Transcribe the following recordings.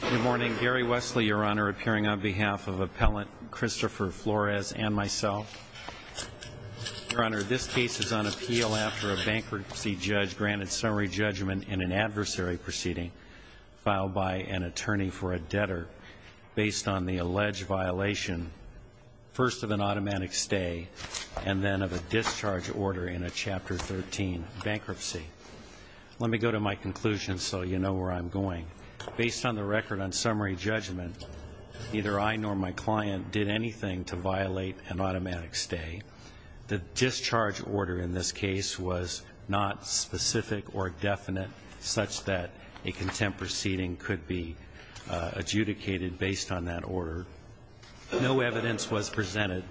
Good morning. Gary Wesley, Your Honor, appearing on behalf of Appellant Christopher Flores and myself. Your Honor, this case is on appeal after a bankruptcy judge granted summary judgment in an adversary proceeding filed by an attorney for a debtor based on the alleged violation, first of an automatic stay and then of a discharge order in a Chapter 13 bankruptcy. Let me go to my conclusion so you know where I'm going. Based on the record on summary judgment, neither I nor my client did anything to violate an automatic stay. The discharge order in this case was not specific or definite such that a contempt proceeding could be adjudicated based on that order. No evidence was presented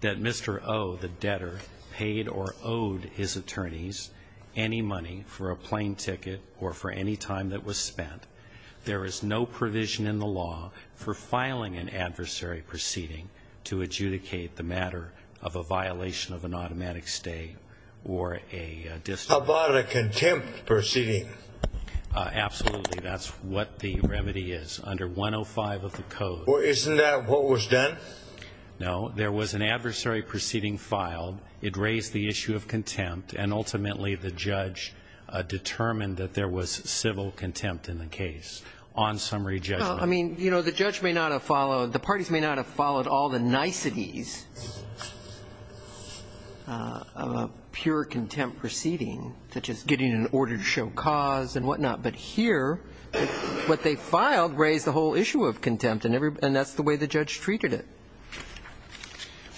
that Mr. Oh, the debtor, paid or owed his for any time that was spent. There is no provision in the law for filing an adversary proceeding to adjudicate the matter of a violation of an automatic stay or a discharge. How about a contempt proceeding? Absolutely. That's what the remedy is. Under 105 of the Code. Isn't that what was done? No. There was an adversary proceeding filed. It raised the issue of contempt and ultimately the judge determined that there was civil contempt in the case on summary judgment. I mean, you know, the judge may not have followed, the parties may not have followed all the niceties of a pure contempt proceeding, such as getting an order to show cause and whatnot. But here, what they filed raised the whole issue of contempt and that's the way the judge treated it.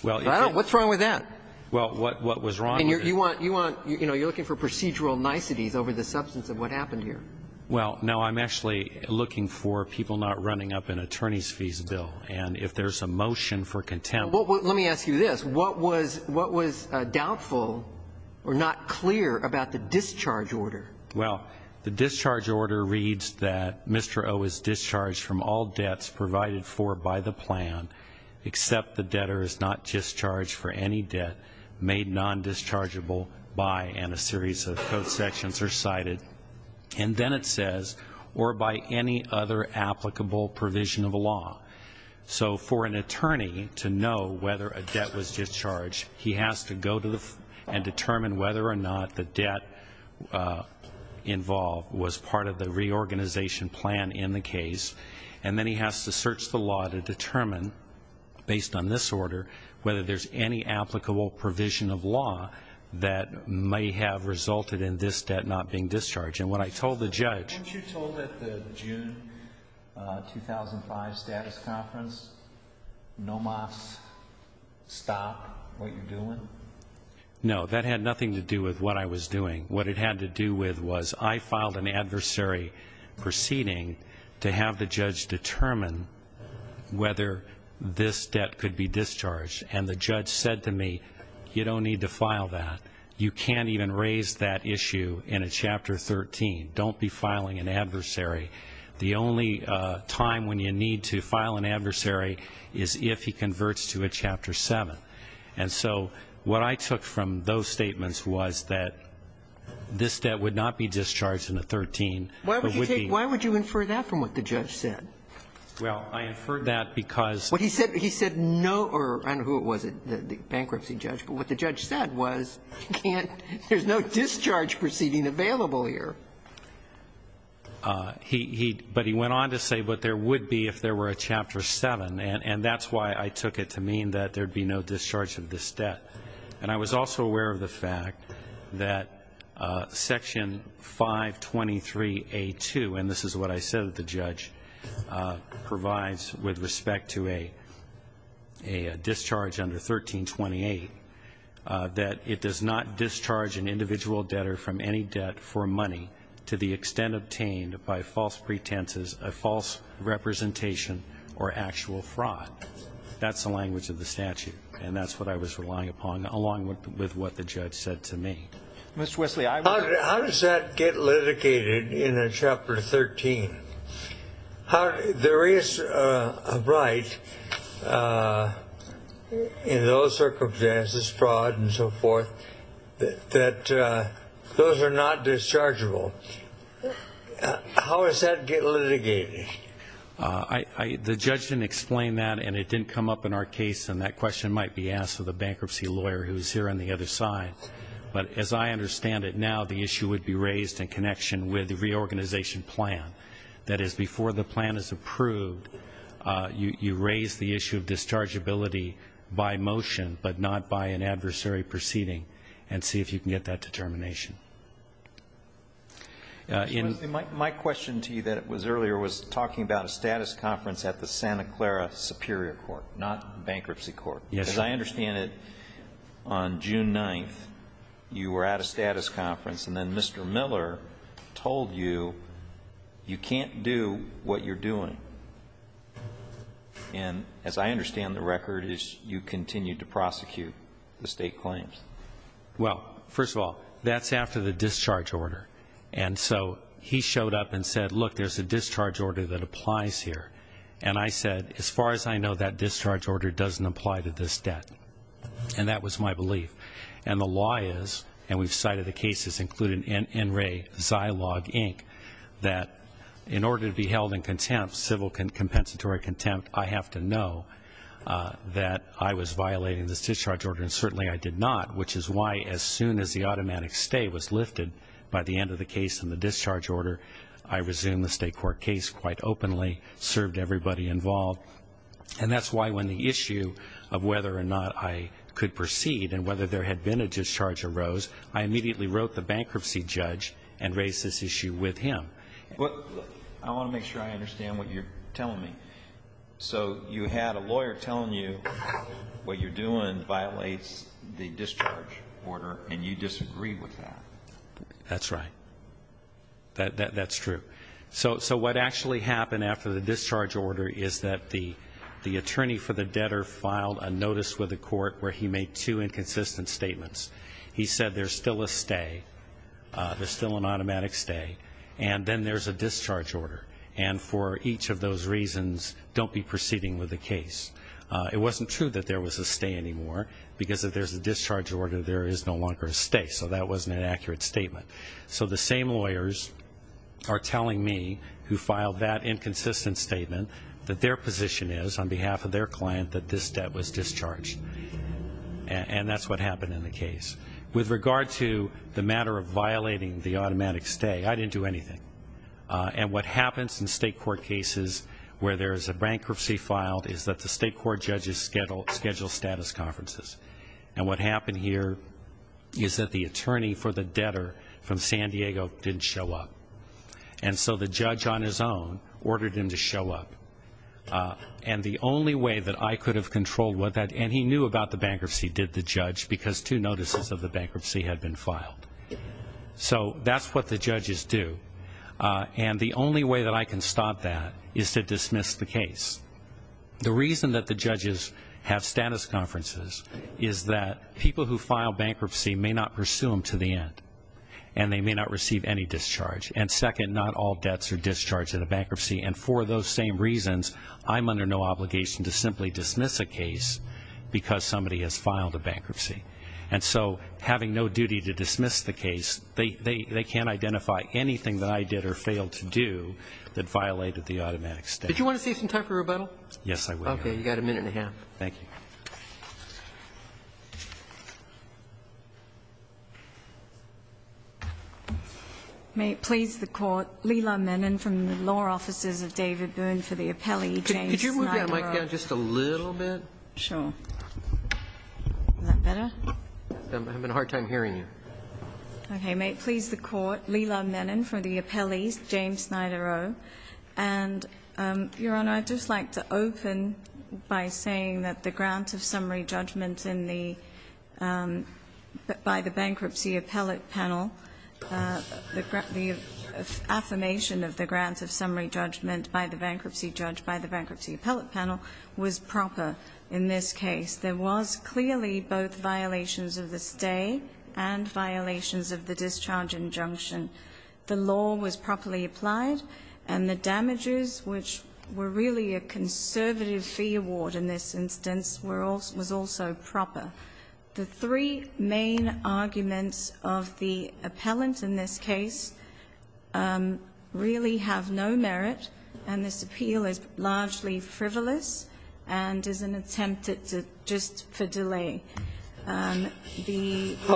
What's wrong with that? Well, what was wrong with it? And you want, you know, you're looking for procedural niceties over the substance of what happened here. Well, no, I'm actually looking for people not running up in attorney's fees bill. And if there's a motion for contempt. Well, let me ask you this. What was doubtful or not clear about the discharge order? Well, the discharge order reads that Mr. Oh is discharged from all debts provided for by the plan, except the debtor is not discharged for any debt made non-dischargeable by, and a series of code sections are cited. And then it says, or by any other applicable provision of law. So for an attorney to know whether a debt was discharged, he has to go and determine whether or not the debt involved was part of the reorganization plan in the law to determine, based on this order, whether there's any applicable provision of law that may have resulted in this debt not being discharged. And what I told the judge. Weren't you told at the June 2005 status conference, no mocks, stop what you're doing? No, that had nothing to do with what I was doing. What it had to do with was I filed an adversary proceeding to have the judge determine whether this debt could be discharged. And the judge said to me, you don't need to file that. You can't even raise that issue in a Chapter 13. Don't be filing an adversary. The only time when you need to file an adversary is if he converts to a Chapter 7. And so what I took from those statements was that this debt would not be discharged in a 13, but would be. Why would you take, why would you infer that from what the judge said? Well, I inferred that because. Well, he said, he said no, or I don't know who it was, the bankruptcy judge. But what the judge said was, you can't, there's no discharge proceeding available here. He, he, but he went on to say, but there would be if there were a Chapter 7. And that's why I took it to mean that there'd be no discharge of this debt. And I was also aware of the fact that Section 523A2, and this is what I said to the judge, provides with respect to a, a discharge under 1328, that it does not discharge an individual debtor from any debt for money to the extent obtained by false pretenses, a false representation, or actual fraud. That's the language of the statute. And that's what I was relying upon, along with, with what the judge said to me. Mr. Wesley, I. How, how does that get litigated in a Chapter 13? How, there is a right in those circumstances, fraud and so forth, that, that those are not dischargeable. How does that get litigated? I, I, the judge didn't explain that, and it didn't come up in our case. And that question might be asked of the bankruptcy lawyer who's here on the other side. But as I understand it now, the issue would be raised in connection with the reorganization plan. That is, before the plan is approved, you, you raise the issue of dischargeability by motion, but not by an adversary proceeding, and see if you can get that determination. In. Mr. Wesley, my, my question to you that was earlier was talking about a status conference at the Santa Clara Superior Court, not bankruptcy court. Yes. As I understand it, on June 9th, you were at a status conference, and then Mr. Miller told you, you can't do what you're doing. And as I understand the record, you continued to prosecute the state claims. Well, first of all, that's after the discharge order. And so he showed up and said, look, there's a discharge order that applies here. And I said, as far as I know, that discharge order doesn't apply to this debt. And that was my belief. And the law is, and we've cited the cases, including NRA, Zilog, Inc., that in order to be held in contempt, civil compensatory contempt, I have to know that I was violating this discharge order, and certainly I did not, which is why as soon as the automatic stay was lifted by the end of the case and the discharge order, I resumed the state court case quite openly, served everybody involved. And that's why when the issue of whether or not I could proceed and whether there had been a discharge arose, I immediately wrote the bankruptcy judge and raised this issue with him. I want to make sure I understand what you're telling me. So you had a lawyer telling you what you're doing violates the discharge order, and you disagreed with that? That's right. That's true. So what actually happened after the discharge order is that the attorney for the debtor filed a notice with the court where he made two inconsistent statements. He said there's still a stay, there's still an automatic stay, and then there's a discharge order, and for each of those reasons, don't be proceeding with the case. It wasn't true that there was a stay anymore because if there's a discharge order, there is no longer a stay, so that wasn't an accurate statement. So the same lawyers are telling me, who filed that inconsistent statement, that their position is on behalf of their client that this debt was discharged, and that's what happened in the case. With regard to the matter of violating the automatic stay, I didn't do anything, and what happens in state court cases where there is a bankruptcy filed is that the state court judges schedule status conferences, and what happened here is that the attorney for the debtor from San Diego didn't show up, and so the judge on his own ordered him to show up, and the only way that I could have controlled that, and he knew about the bankruptcy, did the judge because two notices of the bankruptcy had been filed. So that's what the judges do, and the only way that I can stop that is to dismiss the case. The reason that the judges have status conferences is that people who file bankruptcy may not pursue them to the end, and they may not receive any discharge, and second, not all debts are discharged in a bankruptcy, and for those same reasons, I'm under no obligation to simply dismiss a case because somebody has filed a bankruptcy. And so having no duty to dismiss the case, they can't identify anything that I did or failed to do that violated the automatic stay. Did you want to save some time for rebuttal? Yes, I will, Your Honor. Okay, you've got a minute and a half. Thank you. May it please the Court, Lila Menon from the Law Offices of David Boone for the appellee, James Snydero. Could you move that mic down just a little bit? Sure. Is that better? I'm having a hard time hearing you. Okay. May it please the Court, Lila Menon from the appellee, James Snydero. And, Your Honor, I'd just like to open by saying that the grant of summary judgment in the by the bankruptcy appellate panel, the affirmation of the grant of summary judgment by the bankruptcy judge by the bankruptcy appellate panel was proper in this case. There was clearly both violations of the stay and violations of the discharge injunction. The law was properly applied, and the damages, which were really a conservative fee award in this instance, was also proper. The three main arguments of the appellant in this case really have no merit, and this appeal is largely frivolous and is an attempt just for delay. How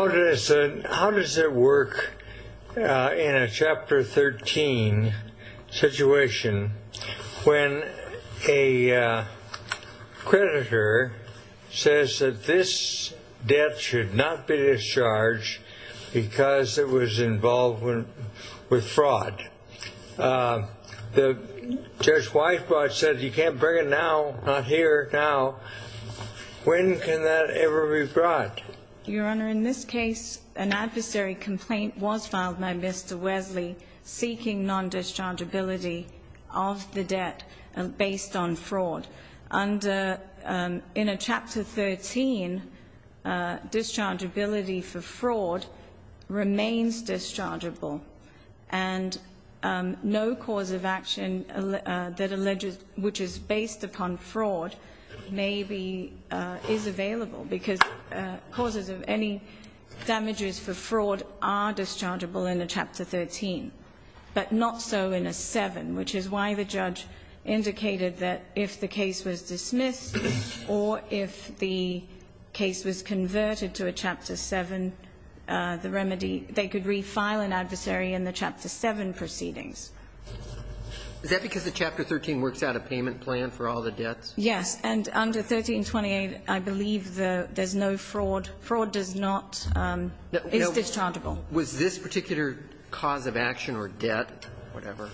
does it work in a Chapter 13 situation when a creditor says that this debt should not be discharged because it was involved with fraud? The Judge Weisbrot said you can't bring it now, not here, now. When can that ever be brought? Your Honor, in this case, an adversary complaint was filed by Mr. Wesley seeking non-dischargeability of the debt based on fraud. In a Chapter 13, dischargeability for fraud remains dischargeable, and no cause of action that alleges which is based upon fraud maybe is available because causes of any damages for fraud are dischargeable in a Chapter 13, but not so in a 7, which is why the judge indicated that if the case was dismissed or if the case was converted to a Chapter 7, the remedy, they could refile an adversary in the Chapter 7 proceedings. Is that because the Chapter 13 works out a payment plan for all the debts? Yes. And under 1328, I believe there's no fraud. Fraud does not. It's dischargeable. Was this particular cause of action or debt, whatever,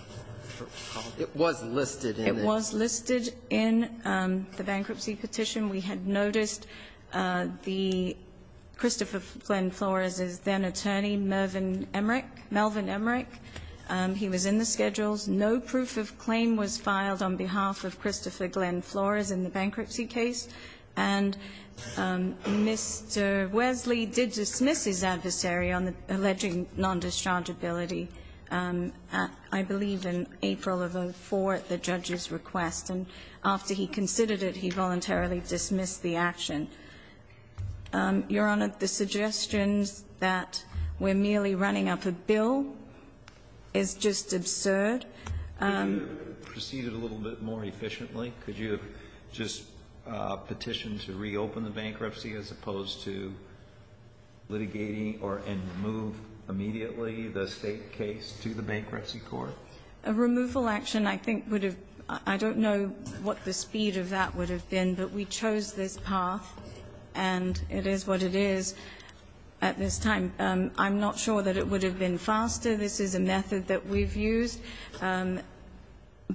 it was listed in the ---- It was listed in the bankruptcy petition. We had noticed the Christopher Glenn Flores's then-attorney, Mervyn Emrick, Melvin Emrick, he was in the schedules. No proof of claim was filed on behalf of Christopher Glenn Flores in the bankruptcy case, and Mr. Wesley did dismiss his adversary on the alleging non-dischargeability, I believe, in April of 04 at the judge's request. And after he considered it, he voluntarily dismissed the action. Your Honor, the suggestions that we're merely running up a bill is just absurd. Could you have proceeded a little bit more efficiently? Could you have just petitioned to reopen the bankruptcy as opposed to litigating or move immediately the State case to the Bankruptcy Court? A removal action, I think, would have ---- I don't know what the speed of that would have been, but we chose this path, and it is what it is at this time. I'm not sure that it would have been faster. This is a method that we've used.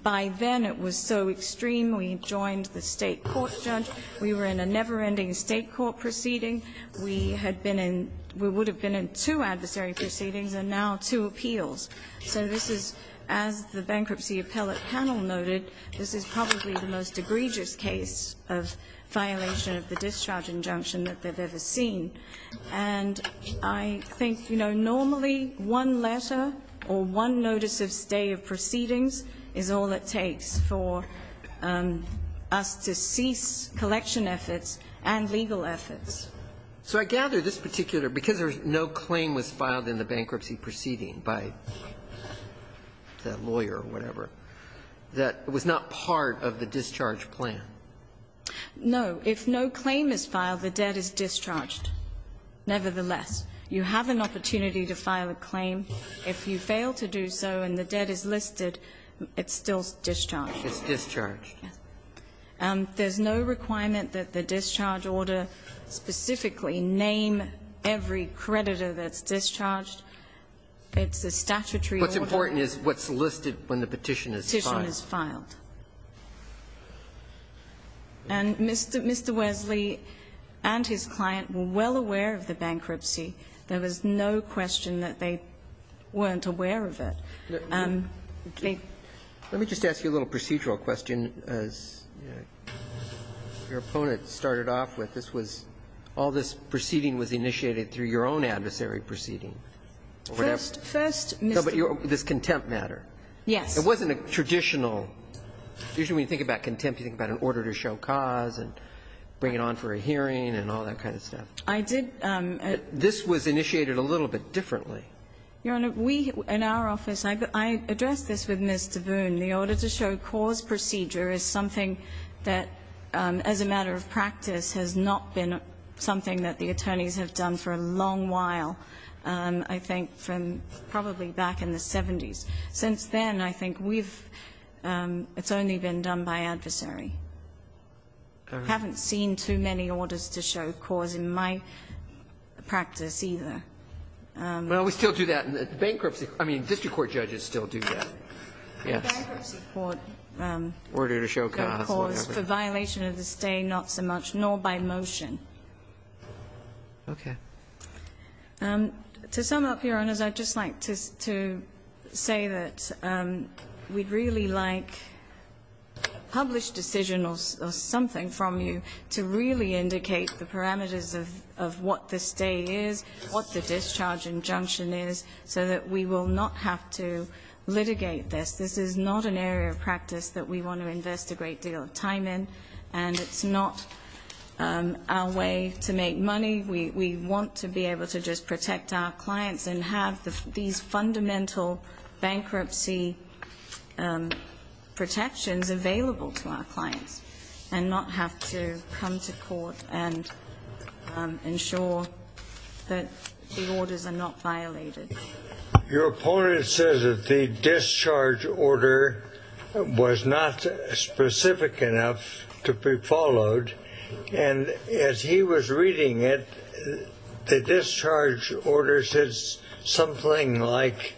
By then, it was so extreme we joined the State court judge. We were in a never-ending State court proceeding. We had been in ---- we would have been in two adversary proceedings and now two appeals. So this is, as the bankruptcy appellate panel noted, this is probably the most egregious case of violation of the discharge injunction that they've ever seen. And I think, you know, normally one letter or one notice of stay of proceedings is all it takes for us to cease collection efforts and legal efforts. So I gather this particular ---- because there's no claim was filed in the bankruptcy proceeding by that lawyer or whatever, that was not part of the discharge plan. No. If no claim is filed, the debt is discharged. Nevertheless, you have an opportunity to file a claim. If you fail to do so and the debt is listed, it's still discharged. It's discharged. Yes. There's no requirement that the discharge order specifically name every creditor that's discharged. It's a statutory order. What's important is what's listed when the petition is filed. Petition is filed. And Mr. Wesley and his client were well aware of the bankruptcy. There was no question that they weren't aware of it. They ---- Let me just ask you a little procedural question. As your opponent started off with, this was all this proceeding was initiated through your own adversary proceeding. First, Mr. ---- No, but this contempt matter. Yes. It wasn't a traditional. Usually, when you think about contempt, you think about an order to show cause and bring it on for a hearing and all that kind of stuff. I did. This was initiated a little bit differently. Your Honor, we in our office, I addressed this with Ms. Tavoon. The order to show cause procedure is something that, as a matter of practice, has not been something that the attorneys have done for a long while, I think, from probably back in the 70s. Since then, I think, we've ---- it's only been done by adversary. I haven't seen too many orders to show cause in my practice either. Well, we still do that in bankruptcy. I mean, district court judges still do that. Yes. In bankruptcy court, the cause for violation of the stay not so much, nor by motion. Okay. To sum up, Your Honors, I'd just like to say that we'd really like published decision or something from you to really indicate the parameters of what the stay is, what the discharge injunction is, so that we will not have to litigate this. This is not an area of practice that we want to invest a great deal of time in, and it's not our way to make money. We want to be able to just protect our clients and have these fundamental bankruptcy protections available to our clients and not have to come to court and ensure that the orders are not violated. Your opponent says that the discharge order was not specific enough to be followed, and as he was reading it, the discharge order says something like,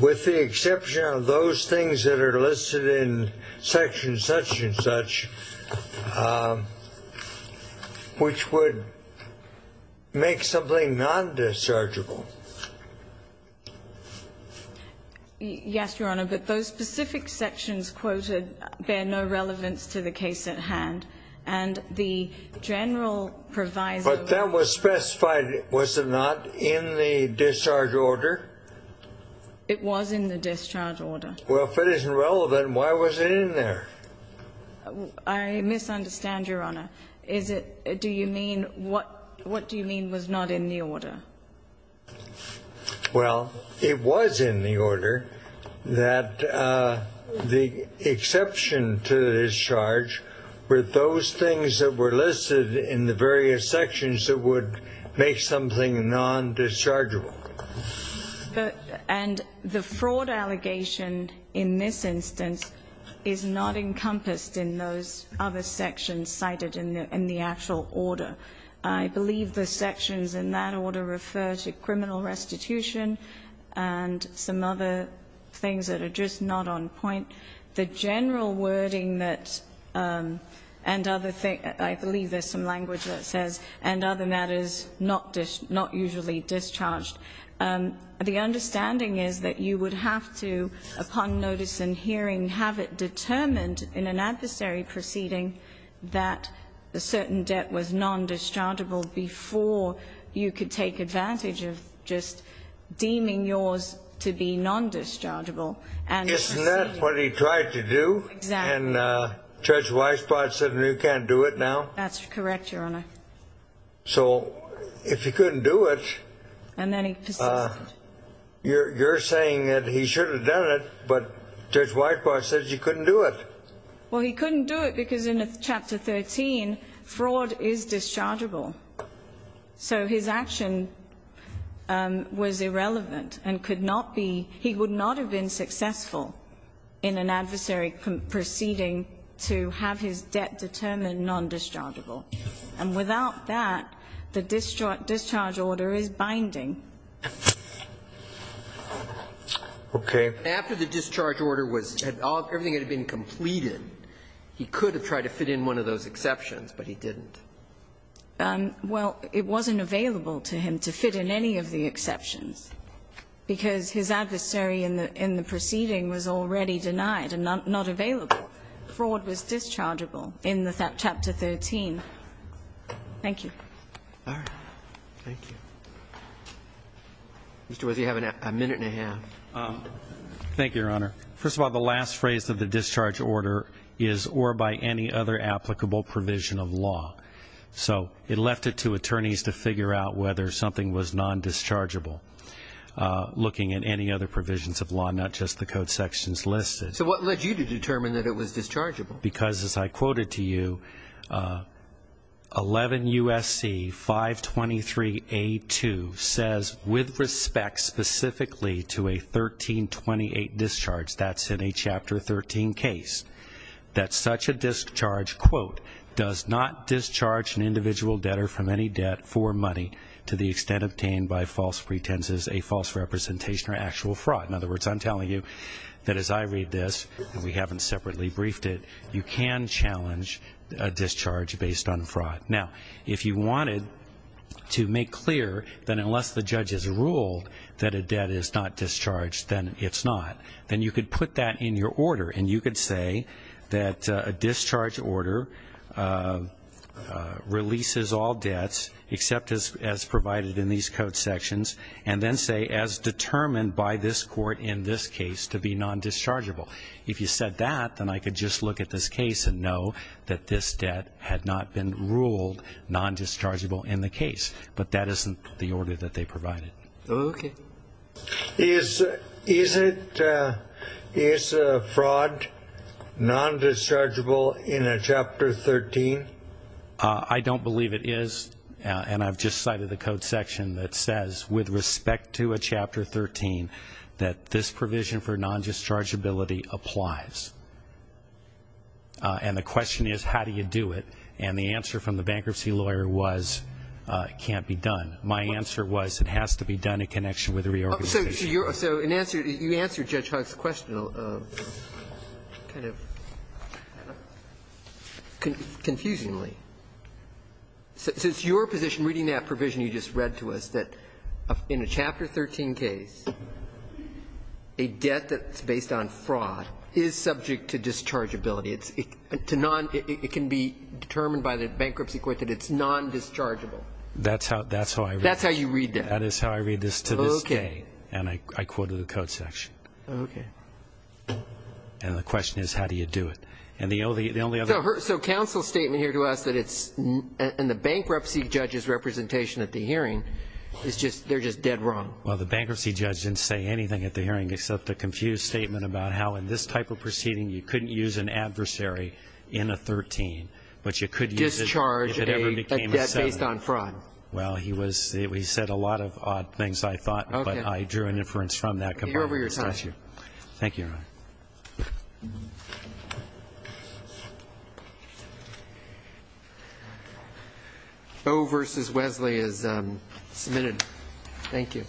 with the exception of those things that are listed in section such and such, which would make something non-dischargeable. Yes, Your Honor, but those specific sections quoted bear no relevance to the case at hand. But that was specified, was it not, in the discharge order? It was in the discharge order. Well, if it isn't relevant, why was it in there? I misunderstand, Your Honor. Well, it was in the order that the exception to the discharge were those things that were listed in the various sections that would make something non-dischargeable. And the fraud allegation in this instance is not encompassed in those other sections cited in the actual order. I believe the sections in that order refer to criminal restitution and some other things that are just not on point. The general wording that, and other things, I believe there's some language that says, and other matters, not usually discharged. The understanding is that you would have to, upon notice and hearing, have it determined in an adversary proceeding that a certain debt was non-dischargeable before you could take advantage of just deeming yours to be non-dischargeable. Isn't that what he tried to do? Exactly. And Judge Weisbrot said, you can't do it now? That's correct, Your Honor. So if he couldn't do it, you're saying that he should have done it, but Judge Weisbrot said he couldn't do it. Well, he couldn't do it because in Chapter 13, fraud is dischargeable. So his action was irrelevant and could not be, he would not have been successful in an adversary proceeding to have his debt determined non-dischargeable. And without that, the discharge order is binding. Okay. After the discharge order was, everything had been completed, he could have tried to fit in one of those exceptions, but he didn't. Well, it wasn't available to him to fit in any of the exceptions, because his adversary in the proceeding was already denied and not available. Fraud was dischargeable in Chapter 13. Thank you. All right. Mr. Wess, you have a minute and a half. Thank you, Your Honor. First of all, the last phrase of the discharge order is or by any other applicable provision of law. So it left it to attorneys to figure out whether something was non-dischargeable, looking at any other provisions of law, not just the code sections listed. So what led you to determine that it was dischargeable? Because, as I quoted to you, 11 U.S.C. 523A2 says, with respect specifically to a 1328 discharge, that's in a Chapter 13 case, that such a discharge, quote, does not discharge an individual debtor from any debt for money to the extent obtained by false pretenses, a false representation, or actual fraud. In other words, I'm telling you that as I read this, and we haven't separately briefed it, you can challenge a discharge based on fraud. Now, if you wanted to make clear that unless the judge has ruled that a debt is not discharged, then it's not, then you could put that in your order and you could say that a discharge order releases all debts, except as provided in these code sections, and then say as determined by this court in this case to be non-dischargeable. If you said that, then I could just look at this case and know that this debt had not been ruled non-dischargeable in the case. But that isn't the order that they provided. Okay. Is fraud non-dischargeable in a Chapter 13? I don't believe it is, and I've just cited the code section that says, with respect to a Chapter 13, that this provision for non-dischargeability applies. And the question is, how do you do it? And the answer from the bankruptcy lawyer was it can't be done. My answer was it has to be done in connection with the reorganization. So you answered Judge Huck's question kind of confusingly. So it's your position, reading that provision you just read to us, that in a Chapter 13 case, a debt that's based on fraud is subject to dischargeability. It can be determined by the bankruptcy court that it's non-dischargeable. That's how I read it. That's how you read that. That is how I read this to this day. Okay. And I quoted the code section. Okay. And the question is, how do you do it? So counsel's statement here to us that it's in the bankruptcy judge's representation at the hearing, they're just dead wrong. Well, the bankruptcy judge didn't say anything at the hearing except a confused statement about how in this type of proceeding you couldn't use an adversary in a 13, but you could use it if it ever became a 7. Discharge a debt based on fraud. Well, he said a lot of odd things, I thought, but I drew an inference from that. Thank you. Over to your side. Thank you. O versus Wesley is submitted. Thank you.